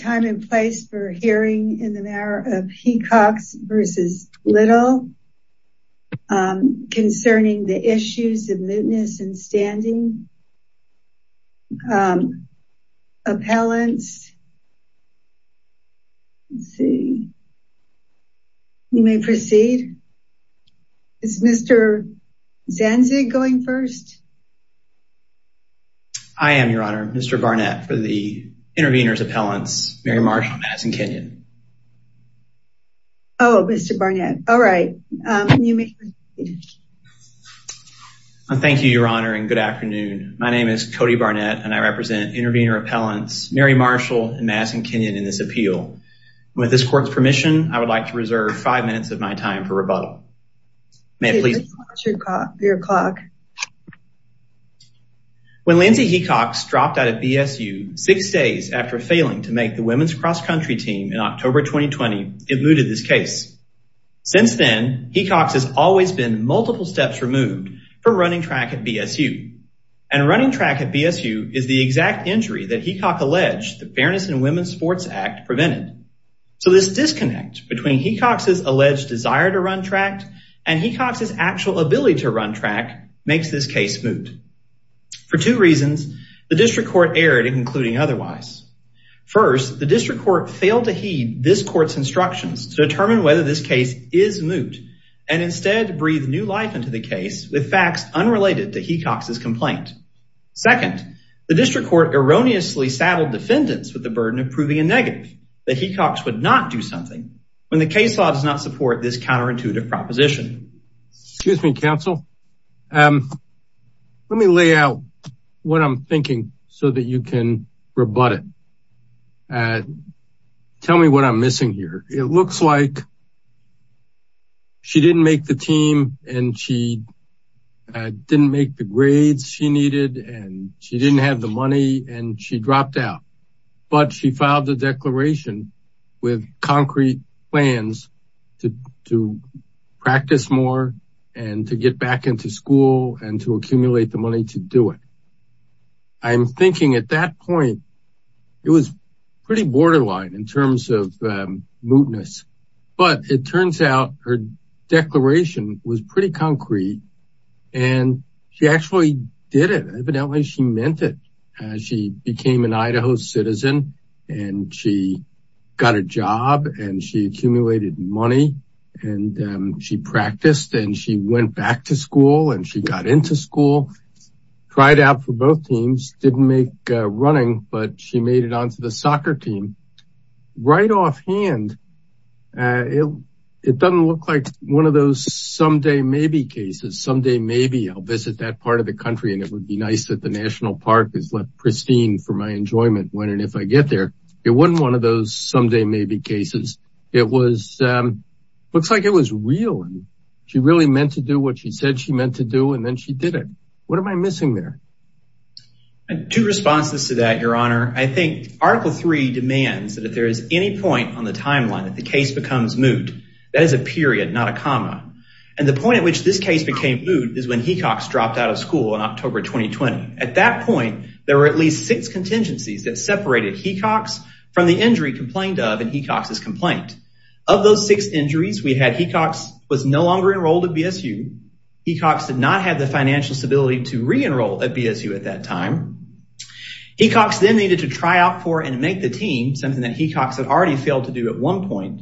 time in place for hearing in the matter of Hecox versus Little concerning the issues of mootness and standing appellants. See, you may proceed. It's Mr. Zanzig going first. I am, Your Honor, Mr. Barnett for the intervener's appellants, Mary Marshall and Madison Kenyon. Oh, Mr. Barnett. All right. Thank you, Your Honor, and good afternoon. My name is Cody Barnett and I represent intervener appellants, Mary Marshall and Madison Kenyon in this appeal. With this court's permission, I would like to reserve five minutes of my time for rebuttal. May I please watch your clock? When Lindsay Hecox dropped out of BSU six days after failing to make the women's cross-country team in October 2020, it mooted this case. Since then, Hecox has always been multiple steps removed for running track at BSU, and running track at BSU is the exact injury that Hecox alleged the Fairness in Women's Sports Act prevented. So this disconnect between Hecox's alleged desire to run track and Hecox's actual ability to run track makes this case moot. For two reasons, the district court erred in concluding otherwise. First, the district court failed to heed this court's instructions to determine whether this case is moot and instead breathe new life into the case with facts unrelated to Hecox's complaint. Second, the district court erroneously saddled defendants with the burden of proving a negative that Hecox would not do something when the case law does not this counterintuitive proposition. Excuse me, counsel. Let me lay out what I'm thinking so that you can rebut it. Tell me what I'm missing here. It looks like she didn't make the team and she didn't make the grades she needed and she didn't have the money and she dropped out. But she filed a declaration with concrete plans to practice more and to get back into school and to accumulate the money to do it. I'm thinking at that point, it was pretty borderline in terms of mootness. But it turns out her declaration was pretty concrete. And she actually did it. Evidently, she meant it. She became an Idaho citizen and she got a job and she accumulated money and she practiced and she went back to school and she got into school, tried out for both teams, didn't make running, but she made it onto the soccer team. Right offhand, it doesn't look like one of those someday maybe cases. Someday maybe I'll visit that part of the country and it would be nice that the national park is left pristine for my enjoyment when and if I get there. It wasn't one of those someday maybe cases. It looks like it was real. She really meant to do what she said she meant to do and then she did it. What am I missing there? And two responses to that, your honor. I think article three demands that if there is any point on the timeline that the case becomes moot. That is a period, not a comma. And the point at which this case became moot is when Hecox dropped out of school in October 2020. At that point, there were at least six contingencies that separated Hecox from the injury complained of in Hecox's complaint. Of those six injuries, we had Hecox was no longer enrolled at BSU. Hecox did not have the stability to re-enroll at BSU at that time. Hecox then needed to try out for and make the team, something that Hecox had already failed to do at one point.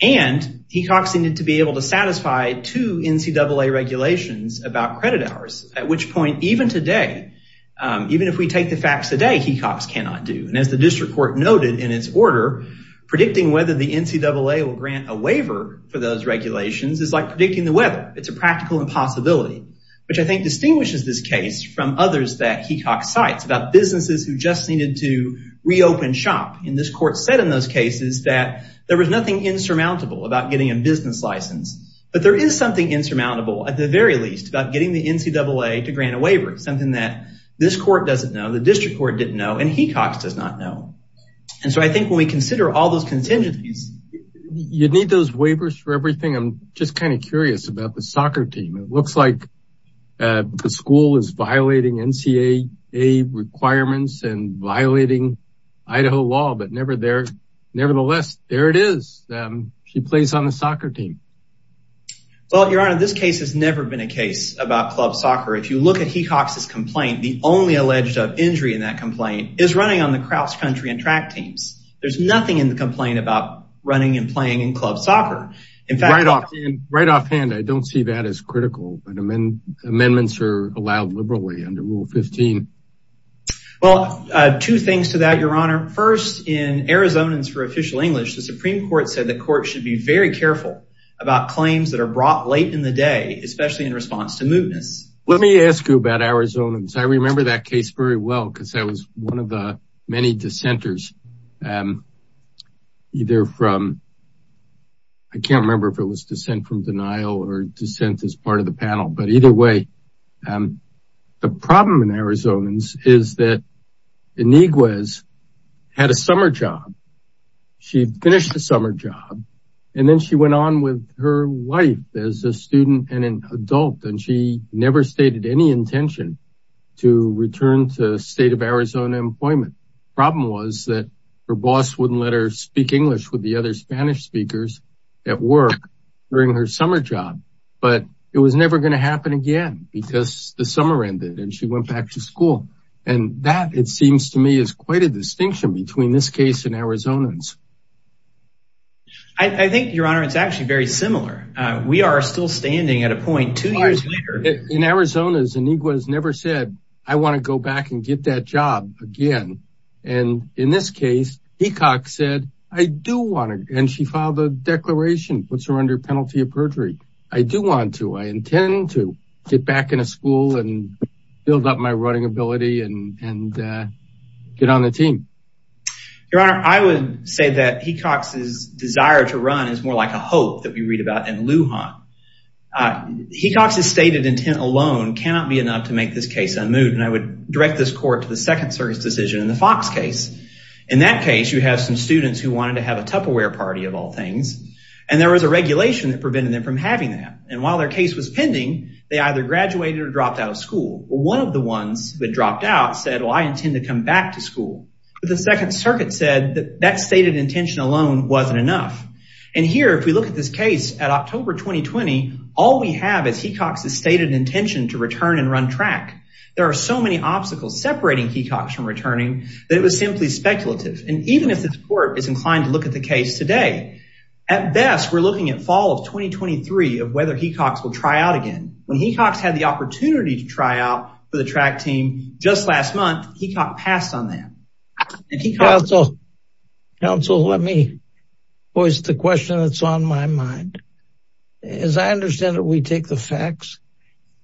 And Hecox needed to be able to satisfy two NCAA regulations about credit hours. At which point even today, even if we take the facts today, Hecox cannot do. And as the district court noted in its order, predicting whether the NCAA will grant a waiver for those regulations is like predicting the weather. It's a practical impossibility, which I think distinguishes this case from others that Hecox cites about businesses who just needed to reopen shop. And this court said in those cases that there was nothing insurmountable about getting a business license. But there is something insurmountable at the very least about getting the NCAA to grant a waiver. Something that this court doesn't know, the district court didn't know, and Hecox does not know. And so I think when we consider all those contingencies, you'd need those waivers for everything. I'm just kind of curious about the looks like the school is violating NCAA requirements and violating Idaho law, but nevertheless, there it is. She plays on the soccer team. Well, your honor, this case has never been a case about club soccer. If you look at Hecox's complaint, the only alleged injury in that complaint is running on the Crouse country and track teams. There's nothing in the complaint about running and playing in club soccer. Right offhand, I don't see that as critical, but amendments are allowed liberally under Rule 15. Well, two things to that, your honor. First, in Arizonans for Official English, the Supreme Court said the court should be very careful about claims that are brought late in the day, especially in response to mootness. Let me ask you about Arizonans. I remember that case very well because I was one of the many dissenters. I can't remember if it was dissent from denial or dissent as part of the panel, but either way, the problem in Arizonans is that Iniguez had a summer job. She finished the summer job, and then she went on with her life as a student and an adult. She never stated any intention to return to state of Arizona employment. The problem was that her boss wouldn't let her speak English with the other Spanish speakers at work during her summer job, but it was never going to happen again because the summer ended and she went back to school. And that, it seems to me, is quite a distinction between this case and Arizonans. I think, your honor, it's actually very similar. We are still standing at a point two years later. In Arizona, Iniguez never said, I want to go back and get that job again. And in this case, Hecox said, I do want to, and she filed a declaration, puts her under penalty of perjury. I do want to, I intend to get back in a school and build up my running ability and get on the team. Your honor, I would say that Hecox's desire to run is more like a hope that we read about in Lujan. Hecox's stated intent alone cannot be enough to make this case unmoved. And I would direct this court to the second circuit's decision in the Fox case. In that case, you have some students who wanted to have a Tupperware party of all things, and there was a regulation that prevented them from having that. And while their case was pending, they either graduated or dropped out of school. One of the ones that dropped out said, well, I intend to come back to school. But the second circuit said that that stated intention alone wasn't enough. And here, if we look at this case at October, 2020, all we have is Hecox's stated intention to return and run track. There are so many obstacles separating Hecox from returning that it was simply speculative. And even if this court is inclined to look at the case today, at best, we're looking at fall of 2023 of whether Hecox will try out again. When Hecox had the opportunity to try out for the track team just last month, Hecox passed on that. Council, let me voice the question that's on my mind. As I understand it, we take the facts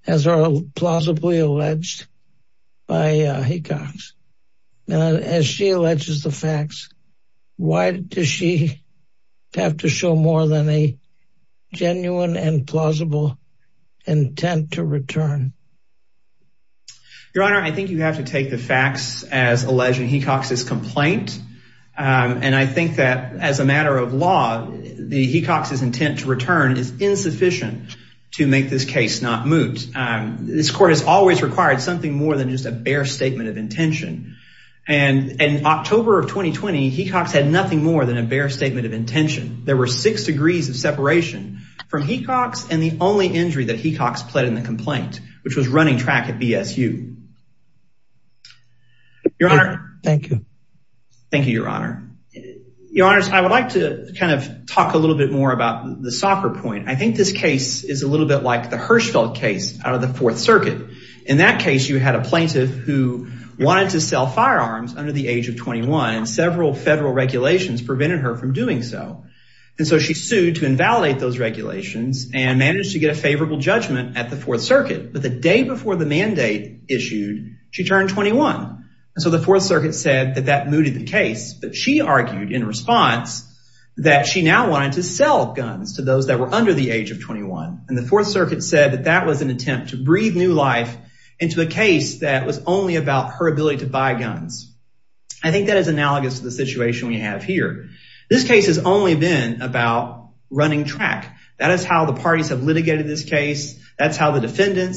as are plausibly alleged by Hecox. Now, as she alleges the facts, why does she have to show more than a genuine and plausible intent to return? Your Honor, I think you have to take the facts as alleged in Hecox's complaint. And I think that as a matter of law, Hecox's intent to return is insufficient to make this case not moot. This court has always required something more than just a bare statement of intention. And in October of 2020, Hecox had nothing more than a bare statement of intention. There were six degrees of separation from Hecox and the only injury that Hecox pled in the complaint, which was running track at BSU. Your Honor, I would like to kind of talk a little bit more about the soccer point. I think this case is a little bit like the Hirschfeld case out of the fourth circuit. In that case, you had a plaintiff who wanted to sell firearms under the age of 21 and several federal regulations prevented her from doing so. And so she sued to invalidate those But the day before the mandate issued, she turned 21. And so the fourth circuit said that that mooted the case, but she argued in response that she now wanted to sell guns to those that were under the age of 21. And the fourth circuit said that that was an attempt to breathe new life into a case that was only about her ability to buy guns. I think that is analogous to the situation we have here. This case has only been about running track. That is how the parties have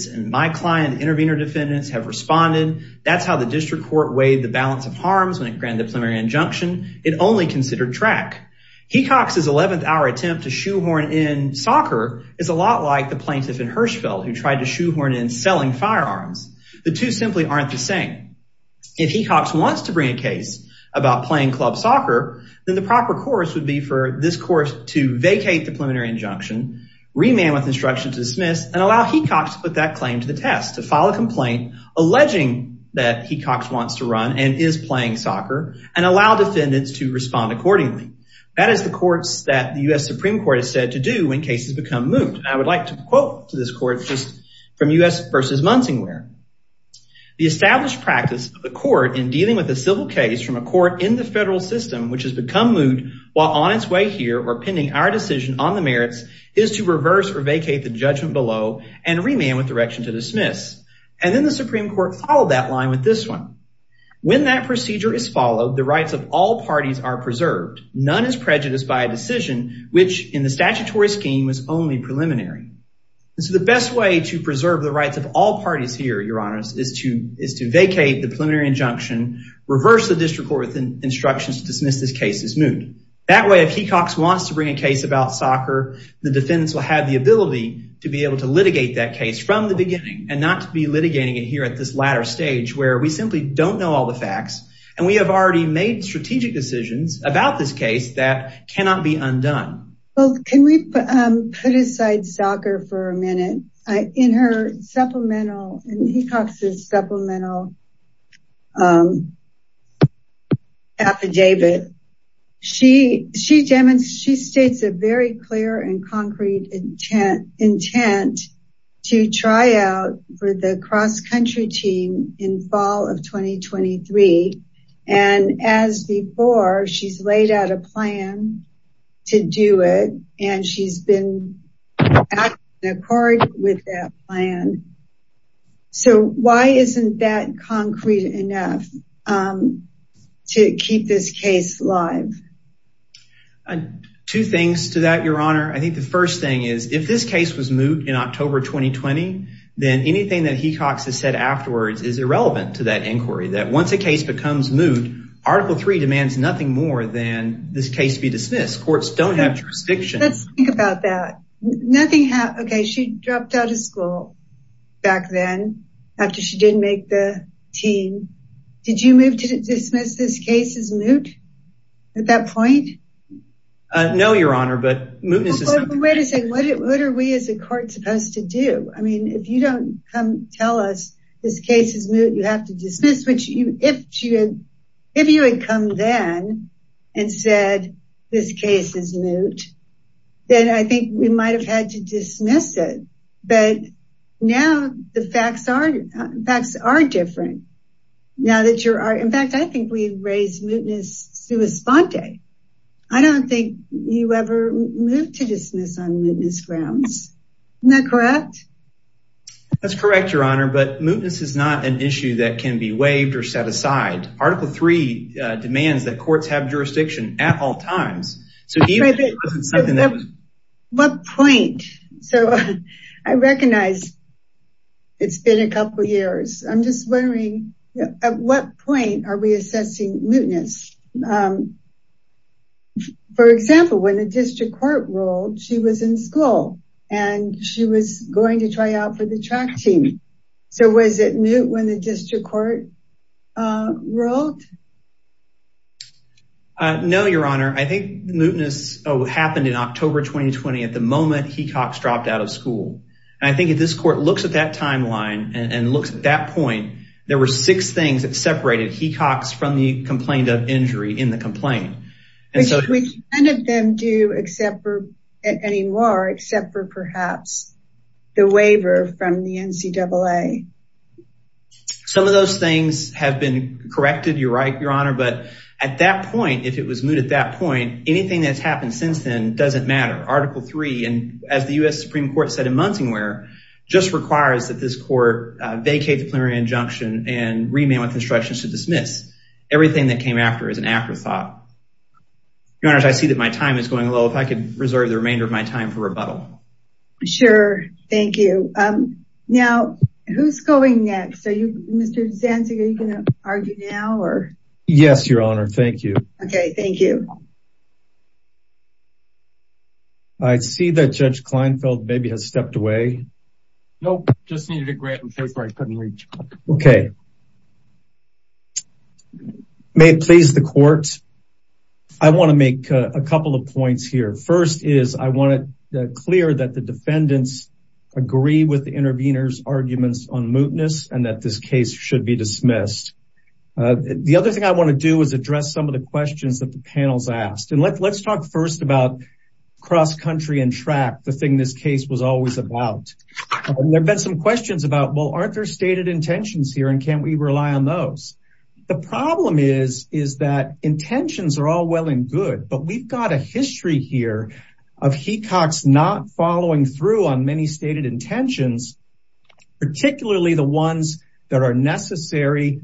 and my client intervener defendants have responded. That's how the district court weighed the balance of harms when it granted the preliminary injunction. It only considered track. Hecox's 11th hour attempt to shoehorn in soccer is a lot like the plaintiff in Hirschfeld who tried to shoehorn in selling firearms. The two simply aren't the same. If Hecox wants to bring a case about playing club soccer, then the proper course would be for this course to vacate the preliminary injunction, remand with instruction to dismiss, and allow Hecox to put that claim to the test, to file a complaint alleging that Hecox wants to run and is playing soccer, and allow defendants to respond accordingly. That is the courts that the U.S. Supreme Court is said to do when cases become moot. I would like to quote to this court just from U.S. versus Munsingware. The established practice of the court in dealing with a civil case from a court in the federal system which has become moot while on its way here or pending our decision on the merits is to reverse or vacate the judgment below and remand with direction to dismiss. And then the Supreme Court followed that line with this one. When that procedure is followed, the rights of all parties are preserved. None is prejudiced by a decision which in the statutory scheme was only preliminary. And so the best way to preserve the rights of all parties here, your honors, is to vacate the preliminary injunction, reverse the district court instructions to dismiss this case as moot. That way if Hecox wants to bring a case about soccer, the defendants will have the ability to be able to litigate that case from the beginning and not to be litigating it here at this latter stage where we simply don't know all the facts and we have already made strategic decisions about this case that cannot be undone. Well can we put aside soccer for a minute? In her supplemental, in Hecox's supplemental affidavit, she states a very clear and concrete intent to try out for the cross-country team in fall of 2023. And as before, she's laid out a plan to do it and she's been in accord with that plan. So why isn't that concrete enough to keep this case live? Two things to that, your honor. I think the first thing is if this case was moot in October 2020, then anything that Hecox has said afterwards is irrelevant to that inquiry. Once a case becomes moot, article 3 demands nothing more than this case be dismissed. Courts don't have jurisdiction. Let's think about that. She dropped out of school back then after she didn't make the team. Did you move to dismiss this case as moot at that point? No, your honor, but what are we as a court supposed to do? I mean if you don't come tell us this case is moot, you have to dismiss it. If you had come then and said this case is moot, then I think we might have had to dismiss it. But now the facts are different. In fact, I think we raised mootness sua sponte. I don't think you ever moved to dismiss on mootness grounds. Isn't that correct? That's correct, your honor, but mootness is not an issue that can be waived or set aside. Article 3 demands that courts have jurisdiction at all times. What point? I recognize it's been a couple years. I'm just wondering at what point are we assessing mootness? For example, when the district court rolled, she was in school and she was going to try out for the track team. So was it moot when the district court rolled? No, your honor. I think mootness happened in October 2020 at the moment Hecox dropped out of school. I think if this court looks at that timeline and looks at that point, there were six things that separated Hecox from the complaint of injury in the complaint. Which none of them do anymore except for perhaps the waiver from the NCAA. Some of those things have been corrected, you're right, your honor. But at that point, if it was moot at that point, anything that's happened since then doesn't matter. Article 3, and as the U.S. Supreme Court said in Munsingwear, just requires that this court vacate the preliminary injunction and remain with instructions to dismiss. Everything that came after is an afterthought. Your honor, I see that my time is going low. If I could reserve the remainder of my time for rebuttal. Sure, thank you. Now, who's going next? Mr. Zanzig, are you going to argue now? Yes, your honor. Thank you. Okay, thank you. I see that Judge Kleinfeld maybe has stepped away. Nope, just needed a grant in case I couldn't reach. Okay. May it please the court, I want to make a couple of points here. First is, I want to clear that the defendants agree with the intervener's arguments on mootness and that this case should be dismissed. The other thing I want to do is address some of the questions that the panel's asked. And let's talk first about cross-country and track, the thing this case was always about. There've been some questions about, well, aren't there stated intentions here and can we rely on those? The problem is that intentions are all well and good, but we've got a history here of Hecox not following through on many stated intentions, particularly the ones that are in NCAA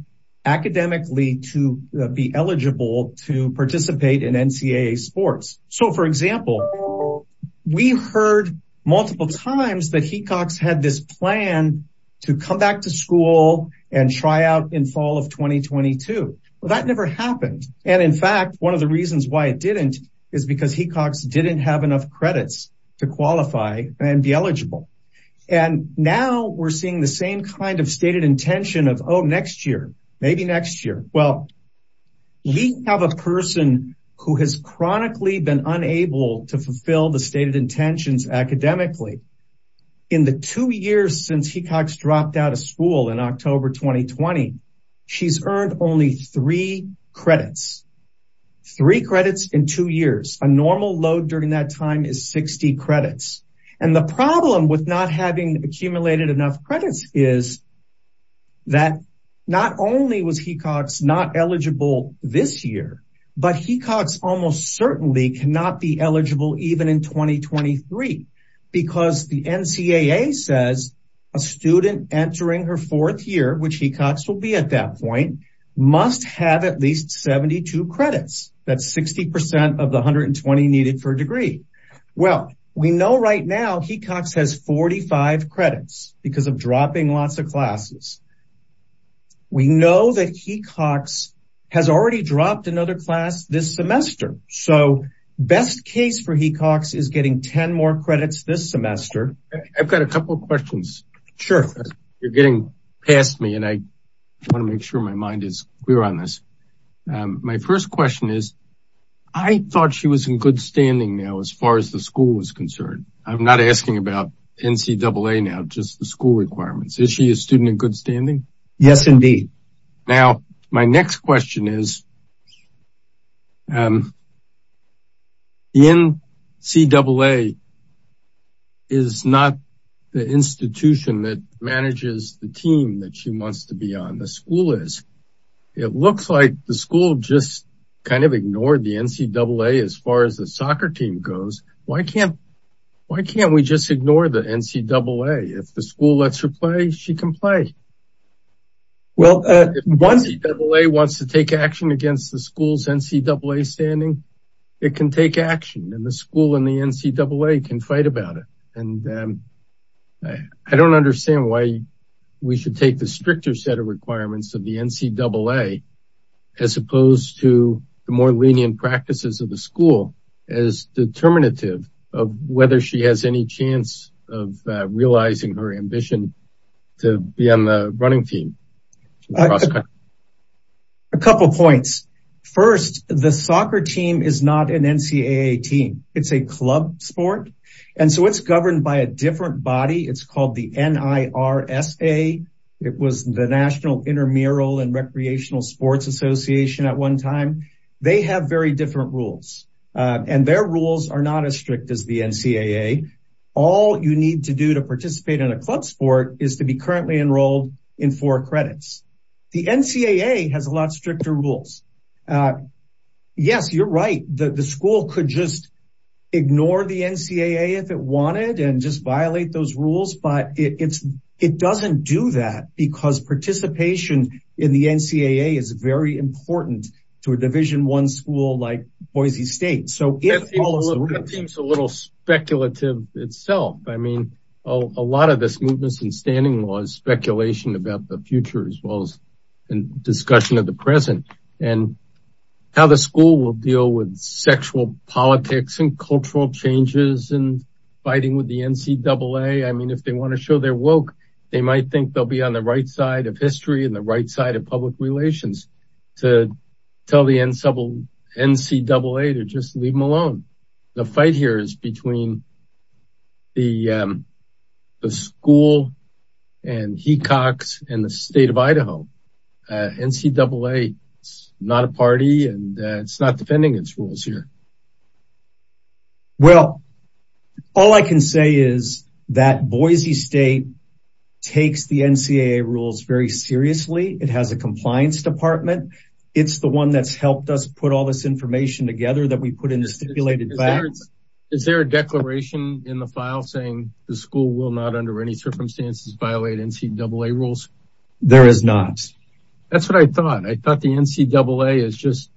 sports. So for example, we heard multiple times that Hecox had this plan to come back to school and try out in fall of 2022. Well, that never happened. And in fact, one of the reasons why it didn't is because Hecox didn't have enough credits to qualify and be eligible. And now we're seeing the same kind of stated intention of, oh, next year, maybe next year. Well, we have a person who has chronically been unable to fulfill the stated intentions academically. In the two years since Hecox dropped out of school in October, 2020, she's earned only three credits, three credits in two years. A normal load during that time is 60 credits. And the problem with not having accumulated enough credits is that not only was Hecox not this year, but Hecox almost certainly cannot be eligible even in 2023, because the NCAA says a student entering her fourth year, which Hecox will be at that point, must have at least 72 credits. That's 60% of the 120 needed for a degree. Well, we know right now Hecox has 45 credits because of dropping lots of classes. We know that Hecox has already dropped another class this semester. So best case for Hecox is getting 10 more credits this semester. I've got a couple of questions. Sure. You're getting past me and I want to make sure my mind is clear on this. My first question is, I thought she was in good standing now, as far as the school is concerned. I'm not asking about NCAA now, just the school requirements. Is she a student in good standing? Yes, indeed. Now, my next question is, the NCAA is not the institution that manages the team that she wants to be on. The school is. It looks like the school just kind of ignored the NCAA as far as the soccer team goes. Why can't we just ignore the NCAA? If the school lets her play, she can play. Well, if the NCAA wants to take action against the school's NCAA standing, it can take action and the school and the NCAA can fight about it. And I don't understand why we should take the stricter set of requirements of the NCAA as opposed to the more lenient practices of the school as determinative of whether she has any chance of realizing her ambition to be on the running team. A couple of points. First, the soccer team is not an NCAA team. It's a club sport. And so it's governed by a different body. It's called the NIRSA. It was the National Intramural and Recreational Sports Association at one time. They have very different rules, and their rules are not as strict as the NCAA. All you need to do to participate in a club sport is to be currently enrolled in four credits. The NCAA has a lot stricter rules. Yes, you're right. The school could just ignore the NCAA if it wanted and just violate those rules. But it doesn't do that because participation in the NCAA is very important to a Division I school like Boise State. That seems a little speculative itself. I mean, a lot of this movement and standing law is speculation about the future as well as discussion of the present and how the school will deal with sexual politics and cultural changes and fighting with the NCAA. I mean, if they want to show they're woke, they might think they'll be on the right side of history and the right side of public relations to tell the NCAA to just leave them alone. The fight here is between the school and Hecox and the state of Idaho. NCAA is not a party and it's not defending its rules here. Well, all I can say is that Boise State takes the NCAA rules very seriously. It has a compliance department. It's the one that's helped us put all this information together that we put in the NCAA rules. There is not. That's what I thought. I thought the NCAA is just,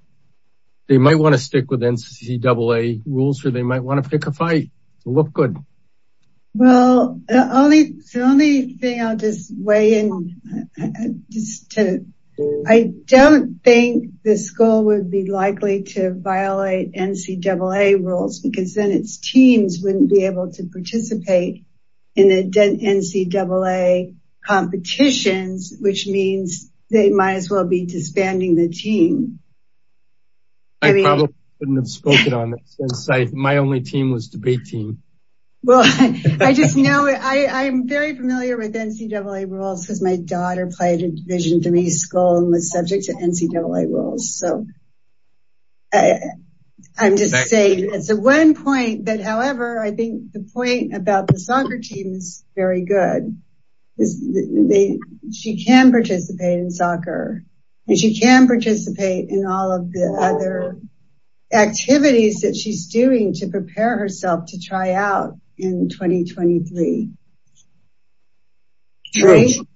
they might want to stick with NCAA rules or they might want to pick a fight to look good. Well, the only thing I'll just weigh in is to, I don't think the school would be likely to violate NCAA rules because then its teams wouldn't be able to participate in the NCAA competitions, which means they might as well be disbanding the team. I probably wouldn't have spoken on it since my only team was debate team. Well, I just know, I'm very familiar with NCAA rules because my I'm just saying it's a one point, but however, I think the point about the soccer team is very good. She can participate in soccer and she can participate in all of the other activities that she's doing to prepare herself to try out in 2023.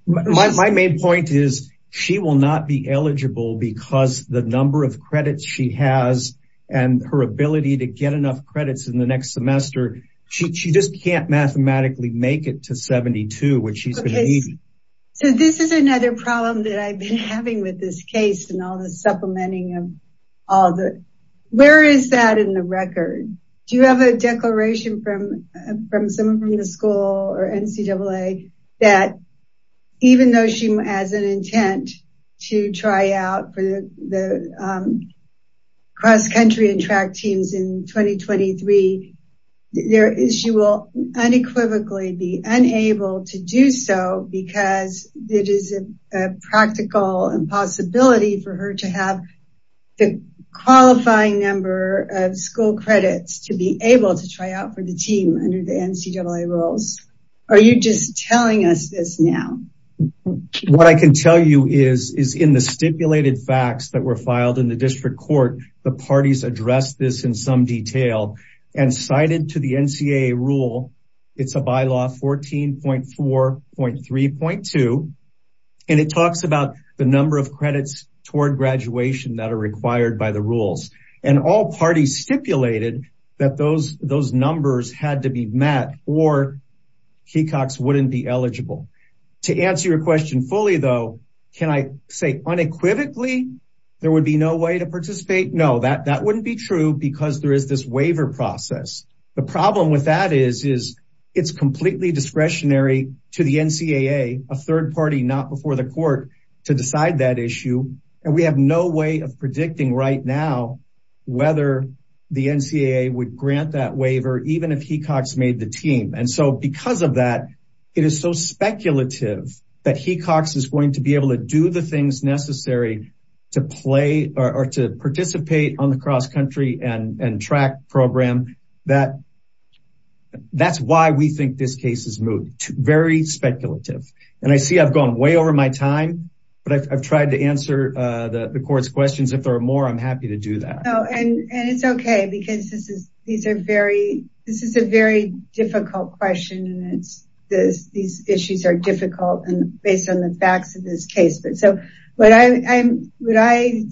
My main point is she will not be eligible because the number of credits she has and her ability to get enough credits in the next semester. She just can't mathematically make it to 72, which she's going to need. So this is another problem that I've been having with this case and all the supplementing of all the, where is that in the record? Do you have a declaration from some of the school or NCAA that even though she has an intent to try out for the cross country and track teams in 2023, she will unequivocally be unable to do so because it is a practical impossibility for her to have the qualifying number of school credits to be able to try out for the team under the NCAA rules. Are you just telling us this now? What I can tell you is in the stipulated facts that were filed in the district court, the parties addressed this in some detail and cited to the NCAA rule. It's a bylaw 14.4.3.2 and it talks about the number of credits toward graduation that are required by the rules and all parties stipulated that those numbers had to be met or Kecox wouldn't be eligible. To answer your question fully though, can I say unequivocally there would be no way to participate? No, that wouldn't be true because there is this waiver process. The problem with that is it's completely discretionary to the NCAA, a third party not before the court to decide that issue and we have no way of predicting right now whether the Kecox made the team and so because of that, it is so speculative that Kecox is going to be able to do the things necessary to play or to participate on the cross country and track program that that's why we think this case is moved. Very speculative and I see I've gone way over my time but I've tried to answer the court's questions. If there are more, I'm happy to do that. And it's okay because this is a very difficult question and these issues are difficult and based on the facts of this case but so what I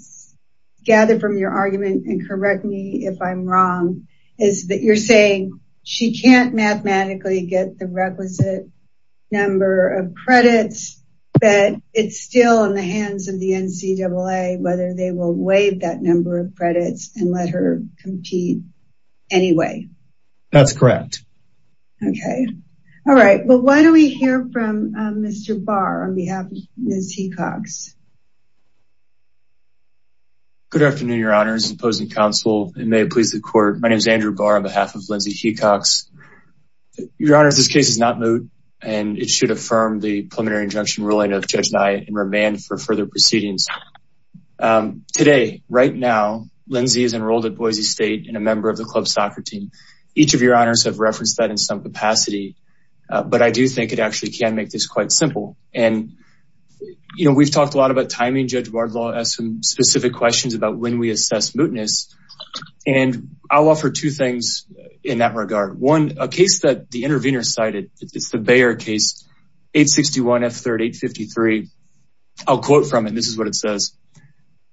gather from your argument and correct me if I'm wrong is that you're saying she can't mathematically get the requisite number of credits but it's still in the hands of the NCAA whether they will waive that number and let her compete anyway. That's correct. Okay. All right. Well, why don't we hear from Mr. Barr on behalf of Ms. Kecox. Good afternoon, your honors, opposing counsel and may it please the court. My name is Andrew Barr on behalf of Lindsay Kecox. Your honors, this case is not moved and it should affirm the preliminary injunction ruling of Judge Nye and remain for further proceedings. Today, right now, Lindsay is enrolled at Boise State and a member of the club soccer team. Each of your honors have referenced that in some capacity but I do think it actually can make this quite simple and you know we've talked a lot about timing. Judge Bardlaw has some specific questions about when we assess mootness and I'll offer two things in that regard. One, a case that the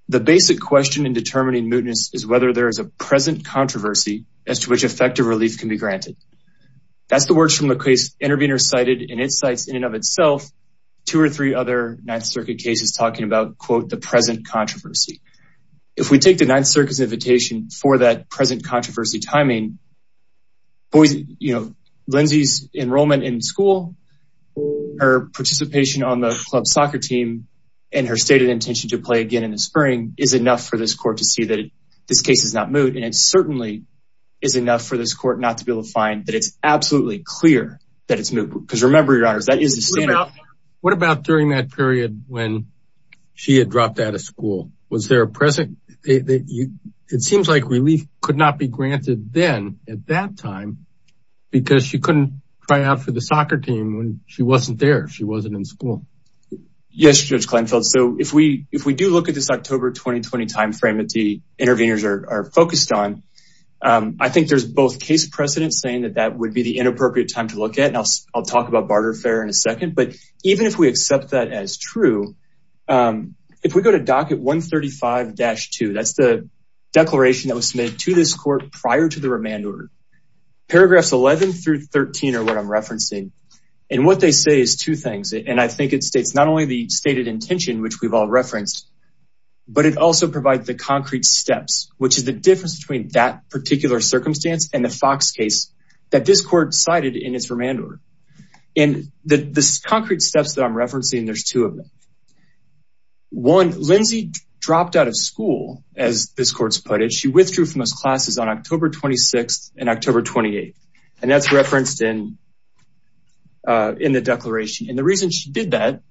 the basic question in determining mootness is whether there is a present controversy as to which effective relief can be granted. That's the words from the case intervener cited and it cites in and of itself two or three other Ninth Circuit cases talking about quote the present controversy. If we take the Ninth Circuit's invitation for that present controversy timing, Lindsay's enrollment in school, her participation on the club soccer team, and her stated intention to play again in the spring is enough for this court to see that this case is not moot and it certainly is enough for this court not to be able to find that it's absolutely clear that it's moot because remember your honors that is the standard. What about during that period when she had dropped out of school? Was there a present, it seems like relief could not be granted then at that time because she couldn't try out for so if we do look at this October 2020 timeframe that the interveners are focused on, I think there's both case precedent saying that that would be the inappropriate time to look at and I'll talk about barter affair in a second but even if we accept that as true, if we go to docket 135-2, that's the declaration that was submitted to this court prior to the remand order. Paragraphs 11 through 13 are what I'm referencing and what they say is two things and I think it we've all referenced but it also provides the concrete steps which is the difference between that particular circumstance and the Fox case that this court cited in its remand order. In the concrete steps that I'm referencing there's two of them. One, Lindsay dropped out of school as this court's put it. She withdrew from those classes on October 26th and October 28th and that's referenced in the declaration and the reason she did that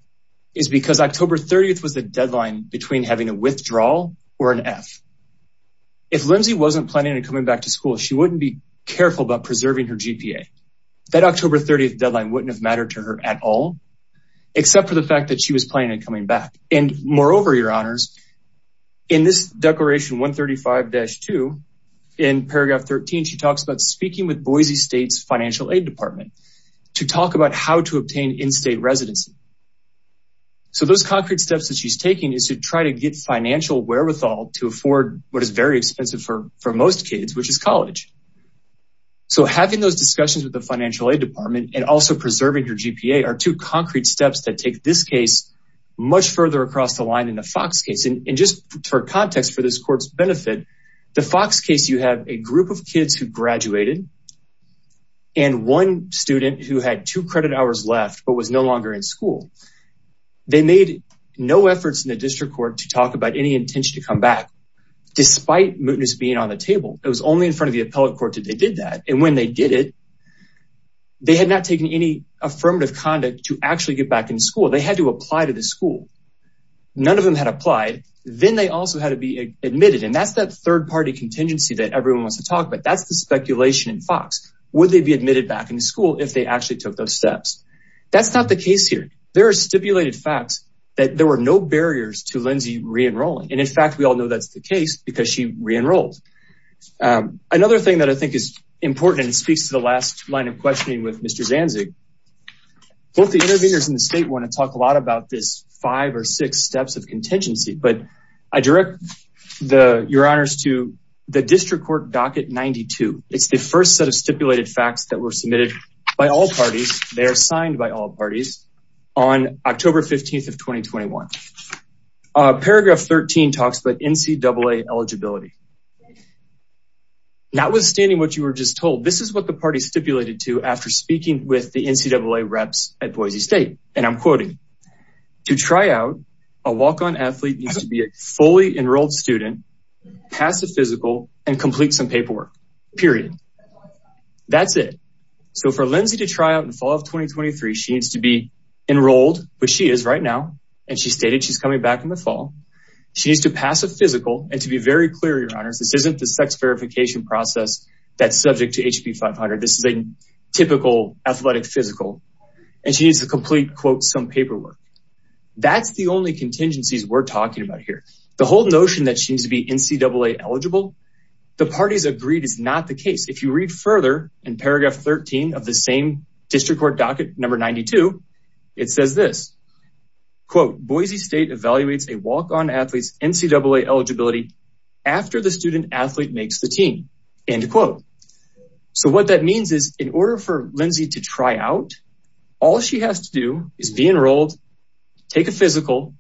is because October 30th was the deadline between having a withdrawal or an F. If Lindsay wasn't planning on coming back to school she wouldn't be careful about preserving her GPA. That October 30th deadline wouldn't have mattered to her at all except for the fact that she was planning on coming back and moreover your honors in this declaration 135-2 in paragraph 13 she talks about speaking with Boise State's financial aid department to talk about how to So those concrete steps that she's taking is to try to get financial wherewithal to afford what is very expensive for for most kids which is college. So having those discussions with the financial aid department and also preserving your GPA are two concrete steps that take this case much further across the line in the Fox case and just for context for this court's benefit the Fox case you have a group of kids who graduated and one student who had two credit left but was no longer in school. They made no efforts in the district court to talk about any intention to come back despite mootness being on the table. It was only in front of the appellate court that they did that and when they did it they had not taken any affirmative conduct to actually get back in school. They had to apply to the school. None of them had applied then they also had to be admitted and that's that third party contingency that everyone wants to talk about. That's the speculation in Fox. Would they be admitted back into school if they actually took those steps? That's not the case here. There are stipulated facts that there were no barriers to Lindsay re-enrolling and in fact we all know that's the case because she re-enrolled. Another thing that I think is important and speaks to the last line of questioning with Mr. Zanzig both the intervenors in the state want to talk a lot about this five or six steps of contingency but I direct the your honors to the district court docket 92. It's the first set of stipulated facts that were submitted by all parties. They are signed by all parties on October 15th of 2021. Paragraph 13 talks about NCAA eligibility. Notwithstanding what you were just told, this is what the party stipulated to after speaking with the NCAA reps at Boise State and I'm quoting, to try out a walk-on athlete needs to be a fully enrolled student, pass a physical and complete some paperwork period. That's it. So for Lindsay to try out in fall of 2023 she needs to be enrolled which she is right now and she stated she's coming back in the fall. She needs to pass a physical and to be very clear your honors this isn't the sex verification process that's subject to HB 500. This is a typical athletic physical and she needs to complete quote some paperwork. That's the only contingencies we're talking about here. The whole notion that she needs to be NCAA eligible the parties agreed is not the case. If you read further in paragraph 13 of the same district court docket number 92 it says this quote Boise State evaluates a walk-on athlete's NCAA eligibility after the student athlete makes the team end quote. So what that means is in order for Lindsay to try out all she has to do is be enrolled, take a physical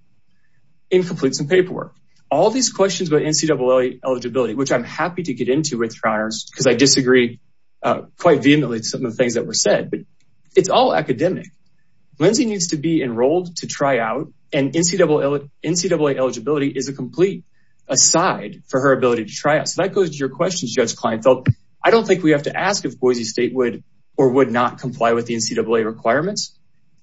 and complete some paperwork. All these questions about NCAA eligibility which I'm happy to get into with your honors because I disagree quite vehemently some of the things that were said but it's all academic. Lindsay needs to be enrolled to try out and NCAA eligibility is a complete aside for her ability to try out. So that goes to your questions Judge Kleinfeld. I don't think we have to ask if Boise State would or would not comply with the NCAA requirements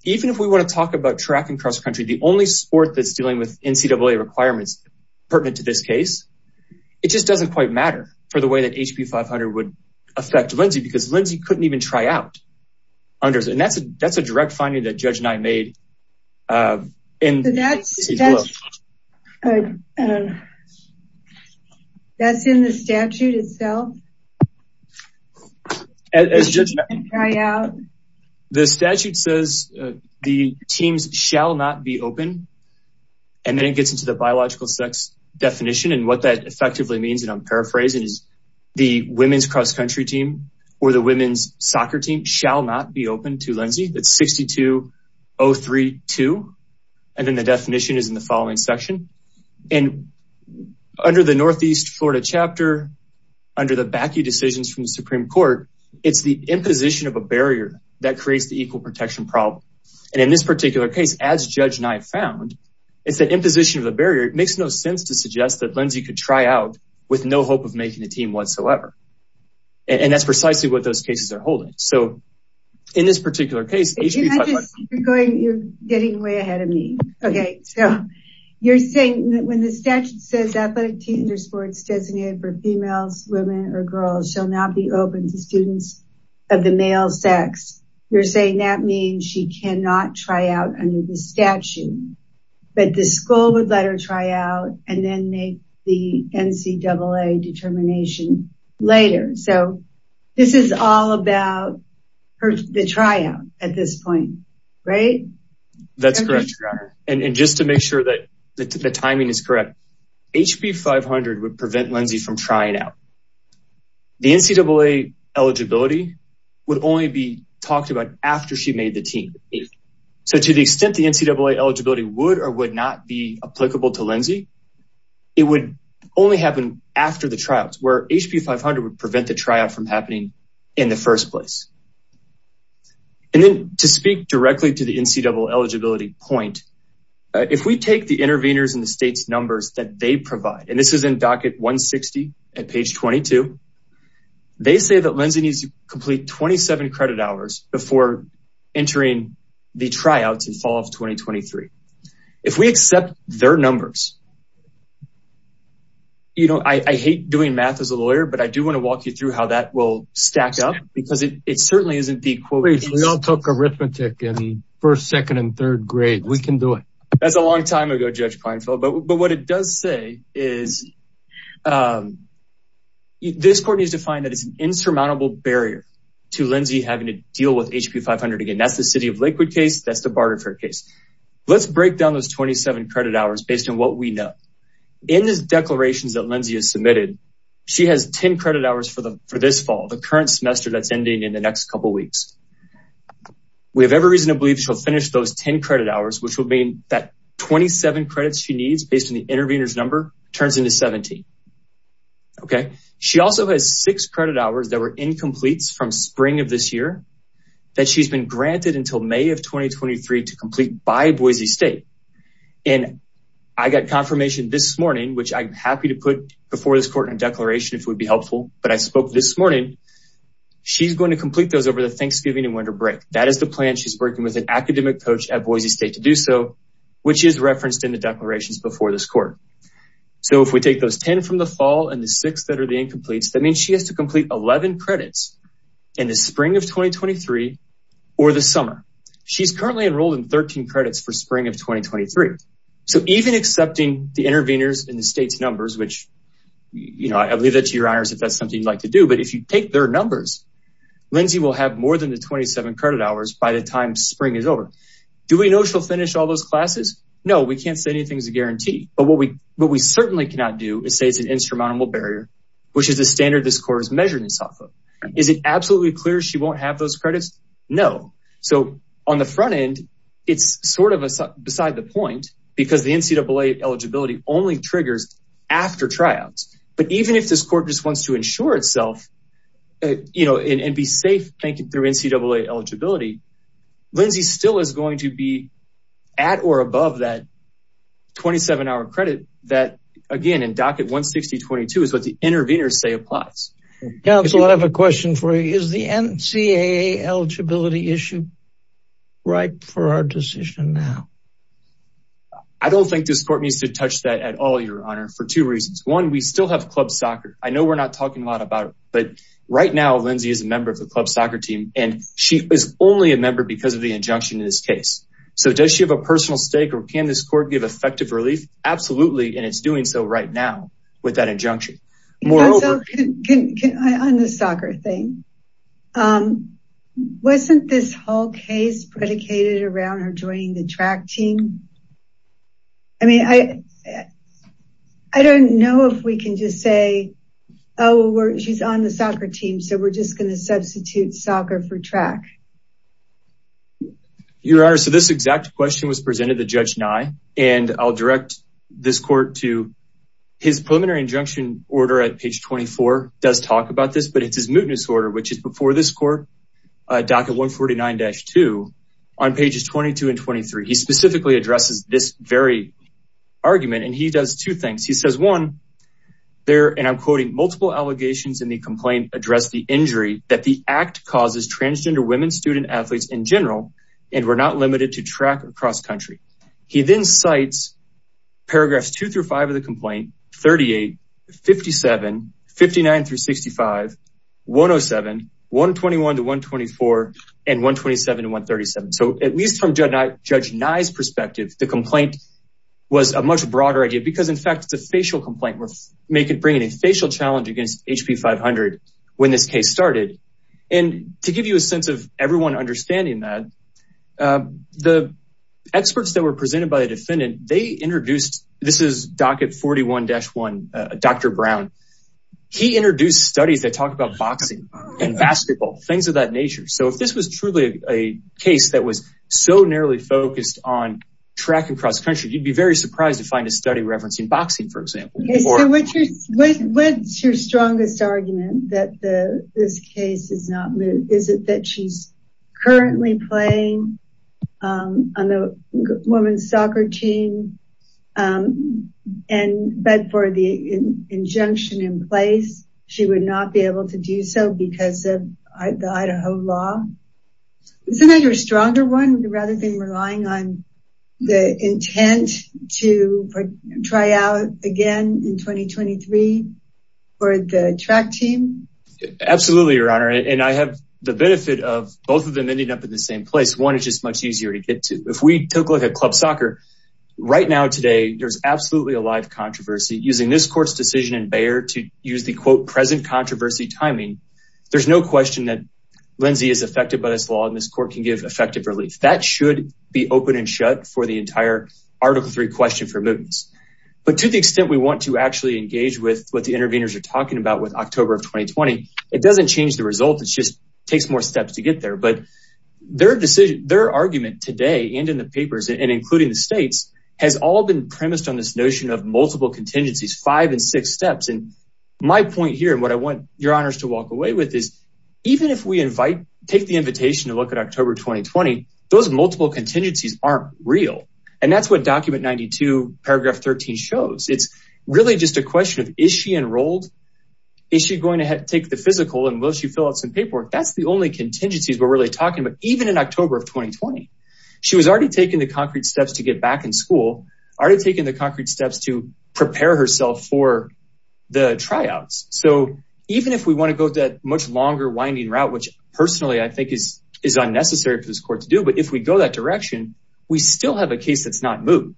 even if we want to talk about track and cross-country the only sport that's dealing with NCAA requirements pertinent to this case it just doesn't quite matter for the way that HB 500 would affect Lindsay because Lindsay couldn't even try out. And that's a direct the teams shall not be open and then it gets into the biological sex definition and what that effectively means and I'm paraphrasing is the women's cross-country team or the women's soccer team shall not be open to Lindsay. It's 62032 and then the definition is in the following section and under the Northeast Florida chapter under the BACU decisions from the Supreme Court it's the protection problem and in this particular case as Judge Nye found it's the imposition of the barrier it makes no sense to suggest that Lindsay could try out with no hope of making a team whatsoever and that's precisely what those cases are holding. So in this particular case you're getting way ahead of me okay so you're saying that when the statute says athletic team or sports designated for females women or girls shall not be open to students of the male sex you're saying that means she cannot try out under the statute but the school would let her try out and then make the NCAA determination later so this is all about the tryout at this point right? That's correct and just to make sure that the timing is correct HB 500 would prevent Lindsay from trying out the NCAA eligibility would only be talked about after she made the team so to the extent the NCAA eligibility would or would not be applicable to Lindsay it would only happen after the tryouts where HB 500 would prevent the tryout from happening in the first place and then to speak directly to the NCAA eligibility point if we take the interveners in the state's numbers that they provide and this is in docket 160 at page 22 they say that Lindsay needs to complete 27 credit hours before entering the tryouts in fall of 2023. If we accept their numbers you know I hate doing math as a lawyer but I do want to walk you through how that will stack up because it certainly isn't the quote we all took arithmetic in the first second and third grade we can do it. That's a long time ago Judge Pinefield but what it does say is this court needs to find that it's an insurmountable barrier to Lindsay having to deal with HB 500 again that's the City of Lakewood case that's the Barter Fair case. Let's break down those 27 credit hours based on what we know. In the declarations that Lindsay has submitted she has 10 credit hours for the for this fall the current semester that's ending in the next couple weeks. We have every reason to believe she'll finish those 10 credit hours which will mean that 27 credits she needs based on the intervener's number turns into 70. She also has six credit hours that were incompletes from spring of this year that she's been granted until May of 2023 to complete by Boise State and I got confirmation this morning which I'm happy to put before this court in a declaration if it would be helpful but I spoke this morning she's going to complete those over the Thanksgiving and winter break that is the plan she's working with an academic coach at Boise State to do so which is referenced in the declarations before this court. So if we take those 10 from the fall and the six that are the incompletes that means she has to complete 11 credits in the spring of 2023 or the summer. She's currently enrolled in 13 credits for spring of 2023 so even accepting the interveners in the numbers which you know I believe that to your honors if that's something you'd like to do but if you take their numbers Lindsay will have more than the 27 credit hours by the time spring is over. Do we know she'll finish all those classes? No we can't say anything's a guarantee but what we what we certainly cannot do is say it's an insurmountable barrier which is the standard this court is measuring this off of. Is it absolutely clear she won't have those credits? No. So on the front end it's sort of beside the point because the NCAA eligibility only triggers after tryouts but even if this court just wants to ensure itself you know and be safe thank you through NCAA eligibility Lindsay still is going to be at or above that 27 hour credit that again in docket 160 22 is what the interveners say applies. Counsel I have a question for you is the NCAA eligibility issue right for our decision now? I don't think this needs to touch that at all your honor for two reasons. One we still have club soccer I know we're not talking a lot about it but right now Lindsay is a member of the club soccer team and she is only a member because of the injunction in this case. So does she have a personal stake or can this court give effective relief? Absolutely and it's doing so right now with that injunction. On the soccer thing wasn't this whole case predicated around her joining the track team? I mean I don't know if we can just say oh she's on the soccer team so we're just going to substitute soccer for track. Your honor so this exact question was presented to Judge Nye and I'll direct this court to his preliminary injunction order at page 24 does talk about this but it's his mootness order which is before this court docket 149-2 on pages 22 and 23. He specifically addresses this very argument and he does two things he says one there and I'm quoting multiple allegations in the complaint address the injury that the act causes transgender women student athletes in general and we're not limited to track across country. He then cites paragraphs 2 through 5 of the complaint 38, 57, 59 through 65, 107, 121 to 124 and 127 and 137. So at least from Judge Nye's perspective the complaint was a much broader idea because in fact it's a facial complaint we're making bringing a facial challenge against HP 500 when this case started and to give you a sense of everyone understanding that the experts that were presented by the defendant they introduced this is docket 41-1 Dr. Brown he introduced studies that talk about boxing and basketball things of that nature so if this was truly a case that was so narrowly focused on track and cross-country you'd be very surprised to find a study referencing boxing for example. Okay so what's your strongest argument that the this case is not moot is it that she's currently playing on the women's soccer team and but for the injunction in place she would not be able to do so because of the Idaho law isn't that your stronger one rather than relying on the intent to try out again in 2023 for the track team? Absolutely your honor and I have the benefit of both of them ending up in the same place one is just much easier to get to if we took a look at club soccer right now today there's absolutely a live controversy using this court's decision in Bayer to use the quote present controversy timing there's no question that Lindsay is affected by this law and this court can give effective relief that should be open and shut for the entire article 3 question for mootness but to the extent we want to actually engage with what the interveners are talking about with their argument today and in the papers and including the states has all been premised on this notion of multiple contingencies five and six steps and my point here and what I want your honors to walk away with is even if we invite take the invitation to look at October 2020 those multiple contingencies aren't real and that's what document 92 paragraph 13 shows it's really just a question of is she enrolled is she going to take the physical and will she fill out paperwork that's the only contingencies we're really talking about even in October of 2020 she was already taking the concrete steps to get back in school already taking the concrete steps to prepare herself for the tryouts so even if we want to go that much longer winding route which personally I think is is unnecessary for this court to do but if we go that direction we still have a case that's not moved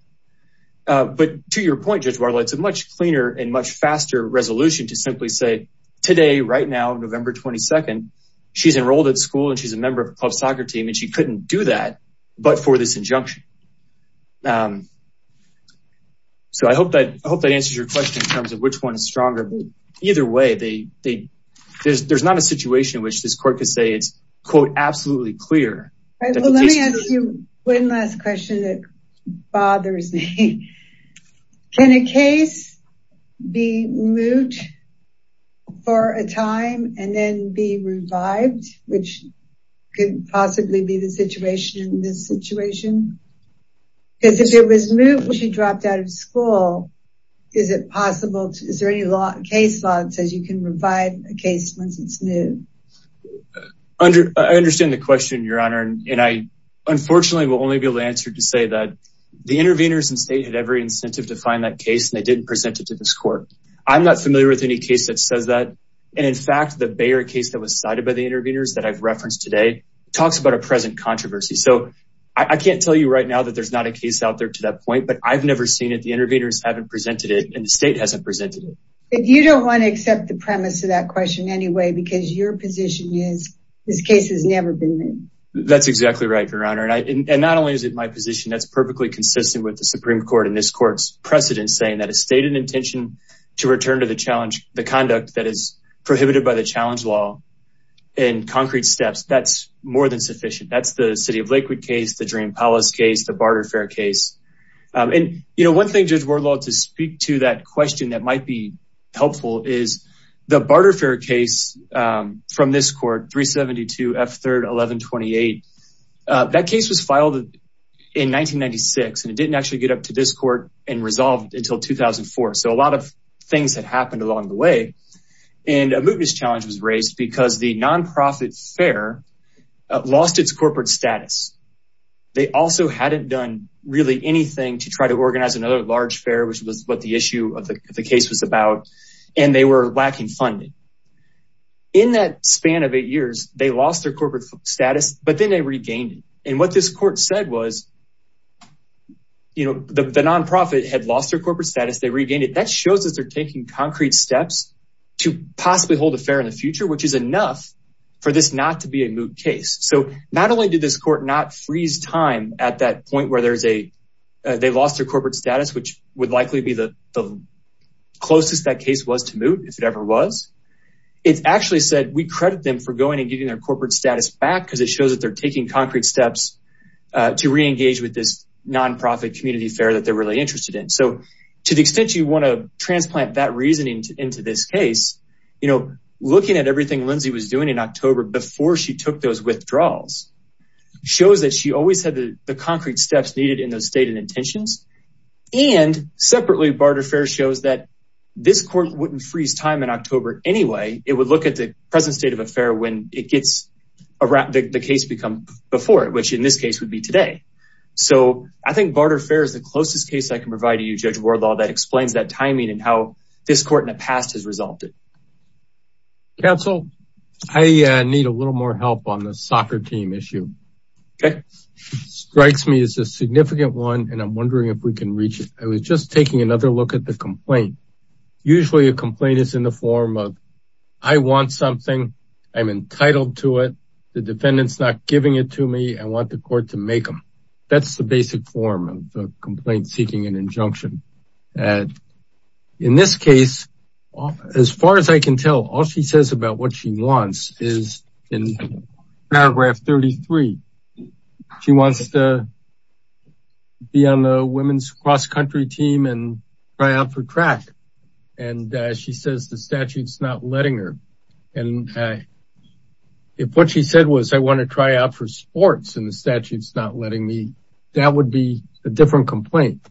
but to your point judge Bartlett's a much cleaner and much stronger either way they they there's there's not a situation which this court could say it's quote absolutely clear let me ask you one last question that bothers me can a case be moot for a time and then be revived which could possibly be the situation in this situation because if it was moot when she dropped out of school is it possible is there any law case law that says you can revive a case once it's new under I understand the question your honor and I unfortunately will only be able to answer to say that the interveners and state had every incentive to find that case and they didn't present it to this court I'm not familiar with any case that says that and in fact the Bayer case that was cited by the interveners that I've referenced today talks about a present controversy so I can't tell you right now that there's not a case out there to that point but I've never seen it the interveners haven't presented it and the state hasn't presented it if you don't want to accept the premise of that question anyway because your position is this case has never been moved that's exactly right your honor and I and not only is it my position that's perfectly consistent with the supreme court in this precedent saying that a stated intention to return to the challenge the conduct that is prohibited by the challenge law in concrete steps that's more than sufficient that's the city of Lakewood case the dream palace case the barter fair case and you know one thing judge ward law to speak to that question that might be helpful is the barter fair case from this court F3rd 1128 that case was filed in 1996 and it didn't actually get up to this court and resolved until 2004 so a lot of things had happened along the way and a mootness challenge was raised because the non-profit fair lost its corporate status they also hadn't done really anything to try to organize another large fair which was what the issue of the case was about and they were lacking funding in that span of eight years they lost their corporate status but then they regained it and what this court said was you know the non-profit had lost their corporate status they regained it that shows us they're taking concrete steps to possibly hold a fair in the future which is enough for this not to be a moot case so not only did this court not freeze time at that point where there's a they lost their corporate status which would likely be the closest that case was to moot if it ever was it actually said we credit them for going and getting their corporate status back because it shows that they're taking concrete steps to re-engage with this non-profit community fair that they're really interested in so to the extent you want to transplant that reasoning into this case you know looking at everything lindsay was doing in october before she took those withdrawals shows that she always had the concrete steps needed in those stated intentions and separately barter fair shows that this court wouldn't freeze time in october anyway it would look at the present state of affair when it gets around the case become before it which in this case would be today so i think barter fair is the closest case i can provide to you judge wardlaw that explains that timing and how this court in the past has resolved it counsel i need a little more help on the soccer team issue okay strikes me as a significant one and i'm wondering if we can reach it i was just taking another look at the complaint usually a complaint is in the form of i want something i'm entitled to it the defendant's not giving it to me i want the court to make them that's the basic form of the complaint seeking an injunction and in this case as far as i can tell all she says about what she wants is in paragraph 33 she wants to be on the women's cross-country team and try out for track and she says the statute's not letting her and if what she said was i want to try out for sports and the statute's not letting me that would be a different complaint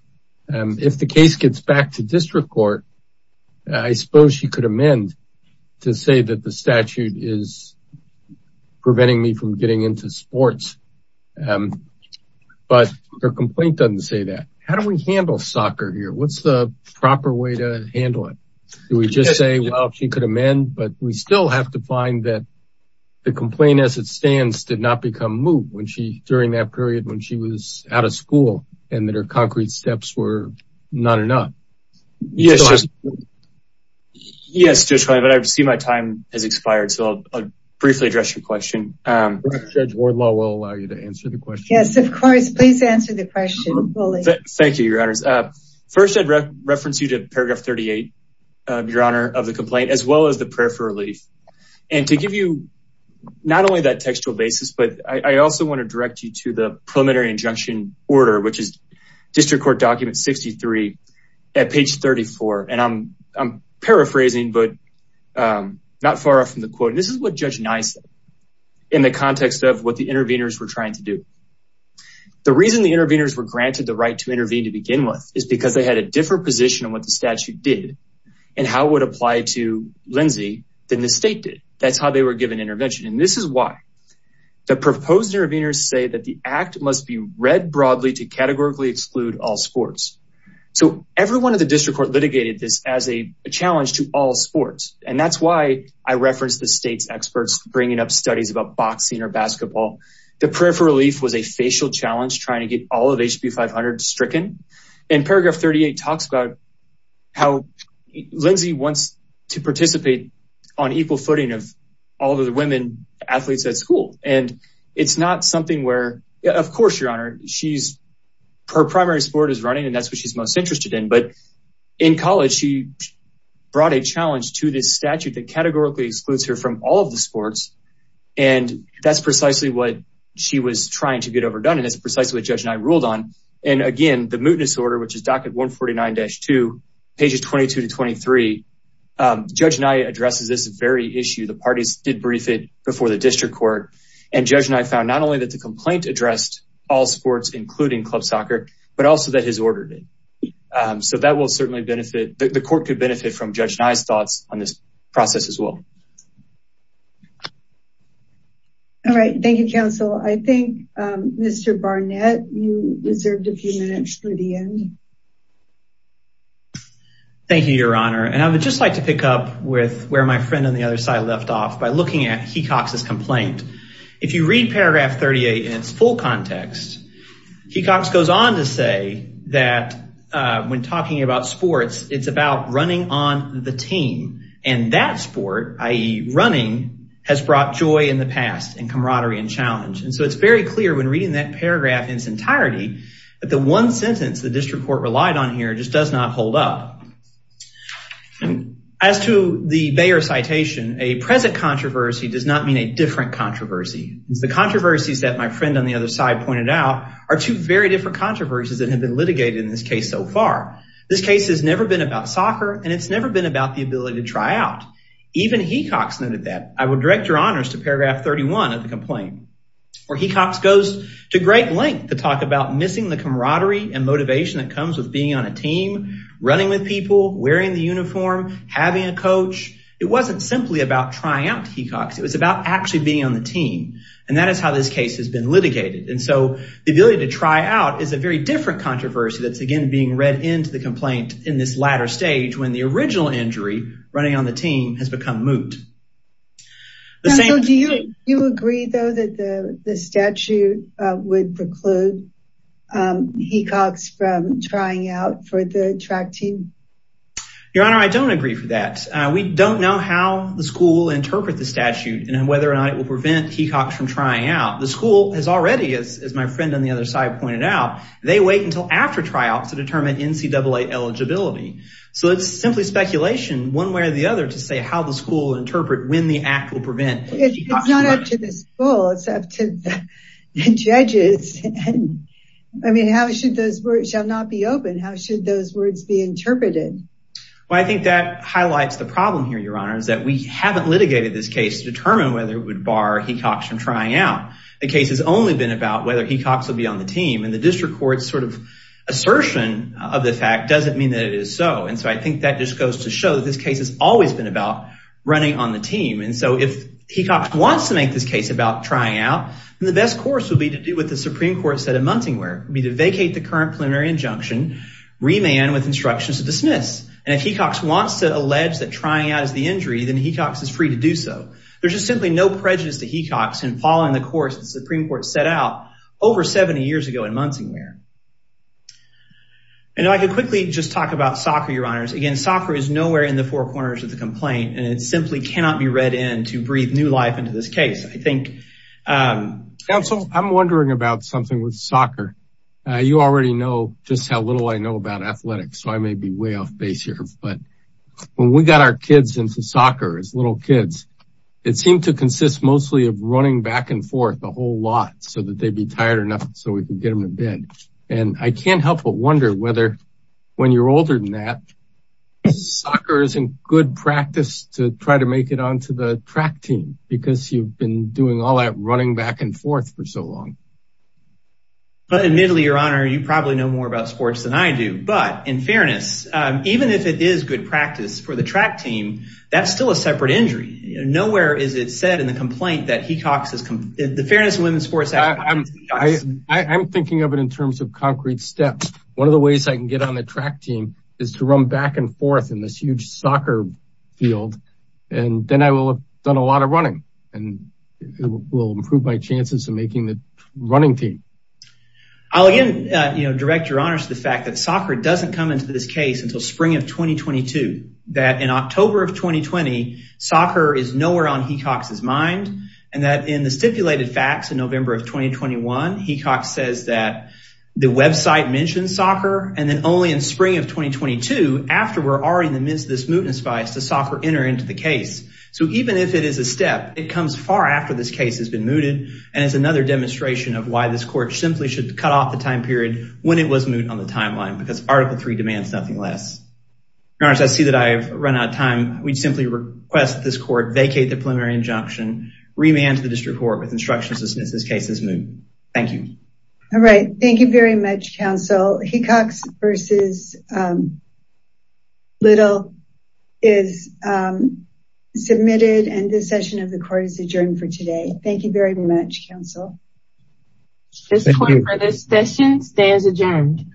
and if the case gets back to district court i suppose she could amend to say that the statute is preventing me from getting into sports um but her complaint doesn't say that how do we handle soccer here what's the proper way to handle it do we just say well she could amend but we still have to find that the complaint as it stands did not become moved when she during that period when she was out of school and that her concrete steps were not enough yes yes just fine but i've seen my time has expired so i'll briefly address your question um judge ward law will allow you to answer the question yes of course please answer the question fully thank you your honors uh first i'd reference you to paragraph 38 uh your honor of the complaint as well as the prayer for relief and to give you not only that textual basis but i also want to direct you to the preliminary injunction order which is district court document 63 at page 34 and i'm i'm paraphrasing but um not far off from the quote this is what judge nye said in the context of what the interveners were trying to do the reason the interveners were granted the right to intervene to begin with is because they had a different position on what the statute did and how it would apply to lindsey than the state did that's how they were given intervention and this is why the proposed interveners say that the act must be read broadly to categorically exclude all sports so everyone in the district court litigated this as a challenge to all sports and that's why i referenced the state's experts bringing up studies about boxing or basketball the prayer for relief was a facial challenge trying to get all of hb 500 stricken and paragraph 38 talks about how lindsey wants to participate on equal footing of all the women athletes at school and it's not something where of course your honor she's her primary sport is running and that's what she's most interested in but in college she brought a challenge to this statute that categorically excludes her from all of the sports and that's precisely what she was trying to get overdone and it's precisely what and again the mootness order which is docket 149-2 pages 22 to 23 judge nye addresses this very issue the parties did brief it before the district court and judge and i found not only that the complaint addressed all sports including club soccer but also that his order did so that will certainly benefit the court could benefit from judge nye's thoughts on this process as well all right thank you counsel i think um mr barnett you reserved a few minutes for the end thank you your honor and i would just like to pick up with where my friend on the other side left off by looking at hecox's complaint if you read paragraph 38 in its full context hecox goes on to say that uh when talking about sports it's about running on the team and that sport i.e running has brought joy in the past and camaraderie and challenge and so it's very clear when reading that paragraph in its entirety that the one sentence the district court relied on here just does not hold up as to the bayer citation a present controversy does not mean a different controversy the controversies that my friend on the other side pointed out are two very different controversies that have been litigated in this case so far this case has never been about soccer and it's never been about the ability to try out even hecox noted that i would direct your honors to paragraph 31 of the complaint where hecox goes to great length to talk about missing the camaraderie and motivation that comes with being on a team running with people wearing the uniform having a coach it wasn't simply about trying out to hecox it was about actually being on the team and that is how this case has been litigated and so the ability to try out is a very different controversy that's again being read into the complaint in this latter stage when the original injury running on the team has become moot do you agree though that the the statute would preclude hecox from trying out for the track team your honor i don't agree for that we don't know how the school interpret the statute and whether or not it will prevent hecox from trying out the school has already as my eligibility so it's simply speculation one way or the other to say how the school interpret when the act will prevent it's not up to the school it's up to the judges and i mean how should those words shall not be open how should those words be interpreted well i think that highlights the problem here your honor is that we haven't litigated this case to determine whether it would bar hecox from trying out the case has only been about whether hecox will be on the team and district court's sort of assertion of the fact doesn't mean that it is so and so i think that just goes to show that this case has always been about running on the team and so if hecox wants to make this case about trying out the best course would be to do what the supreme court said at munting where it would be to vacate the current preliminary injunction remand with instructions to dismiss and if hecox wants to allege that trying out is the injury then hecox is free to do so there's just simply no prejudice to hecox and following the course the supreme court set out over 70 years ago in munting where i know i could quickly just talk about soccer your honors again soccer is nowhere in the four corners of the complaint and it simply cannot be read in to breathe new life into this case i think um counsel i'm wondering about something with soccer uh you already know just how little i know about athletics so i may be way off base here but when we got our kids into soccer as little kids it seemed to consist mostly of running back and forth a whole lot so that they'd be tired enough so we could get them to bed and i can't help but wonder whether when you're older than that soccer isn't good practice to try to make it onto the track team because you've been doing all that running back and forth for so long but admittedly your honor you probably know more about sports than i do but in fairness um even if it is good practice for the track team that's still a separate injury nowhere is it said in the complaint that the fairness of women's sports i'm i'm thinking of it in terms of concrete steps one of the ways i can get on the track team is to run back and forth in this huge soccer field and then i will have done a lot of running and it will improve my chances of making the running team i'll again you know direct your honors to the fact that soccer doesn't come into this case until spring of 2022 that in october of 2020 soccer is nowhere on hecox's mind and that in the stipulated facts in november of 2021 hecox says that the website mentions soccer and then only in spring of 2022 after we're already in the midst of this mootness bias does soccer enter into the case so even if it is a step it comes far after this case has been mooted and it's another demonstration of why this court simply should cut off the time period when it was moot on the timeline because article three that i have run out of time we'd simply request this court vacate the preliminary injunction remand to the district court with instructions as soon as this case is moot thank you all right thank you very much counsel hecox versus little is submitted and this session of the court is adjourned for today thank you very much counsel this point for this session stands adjourned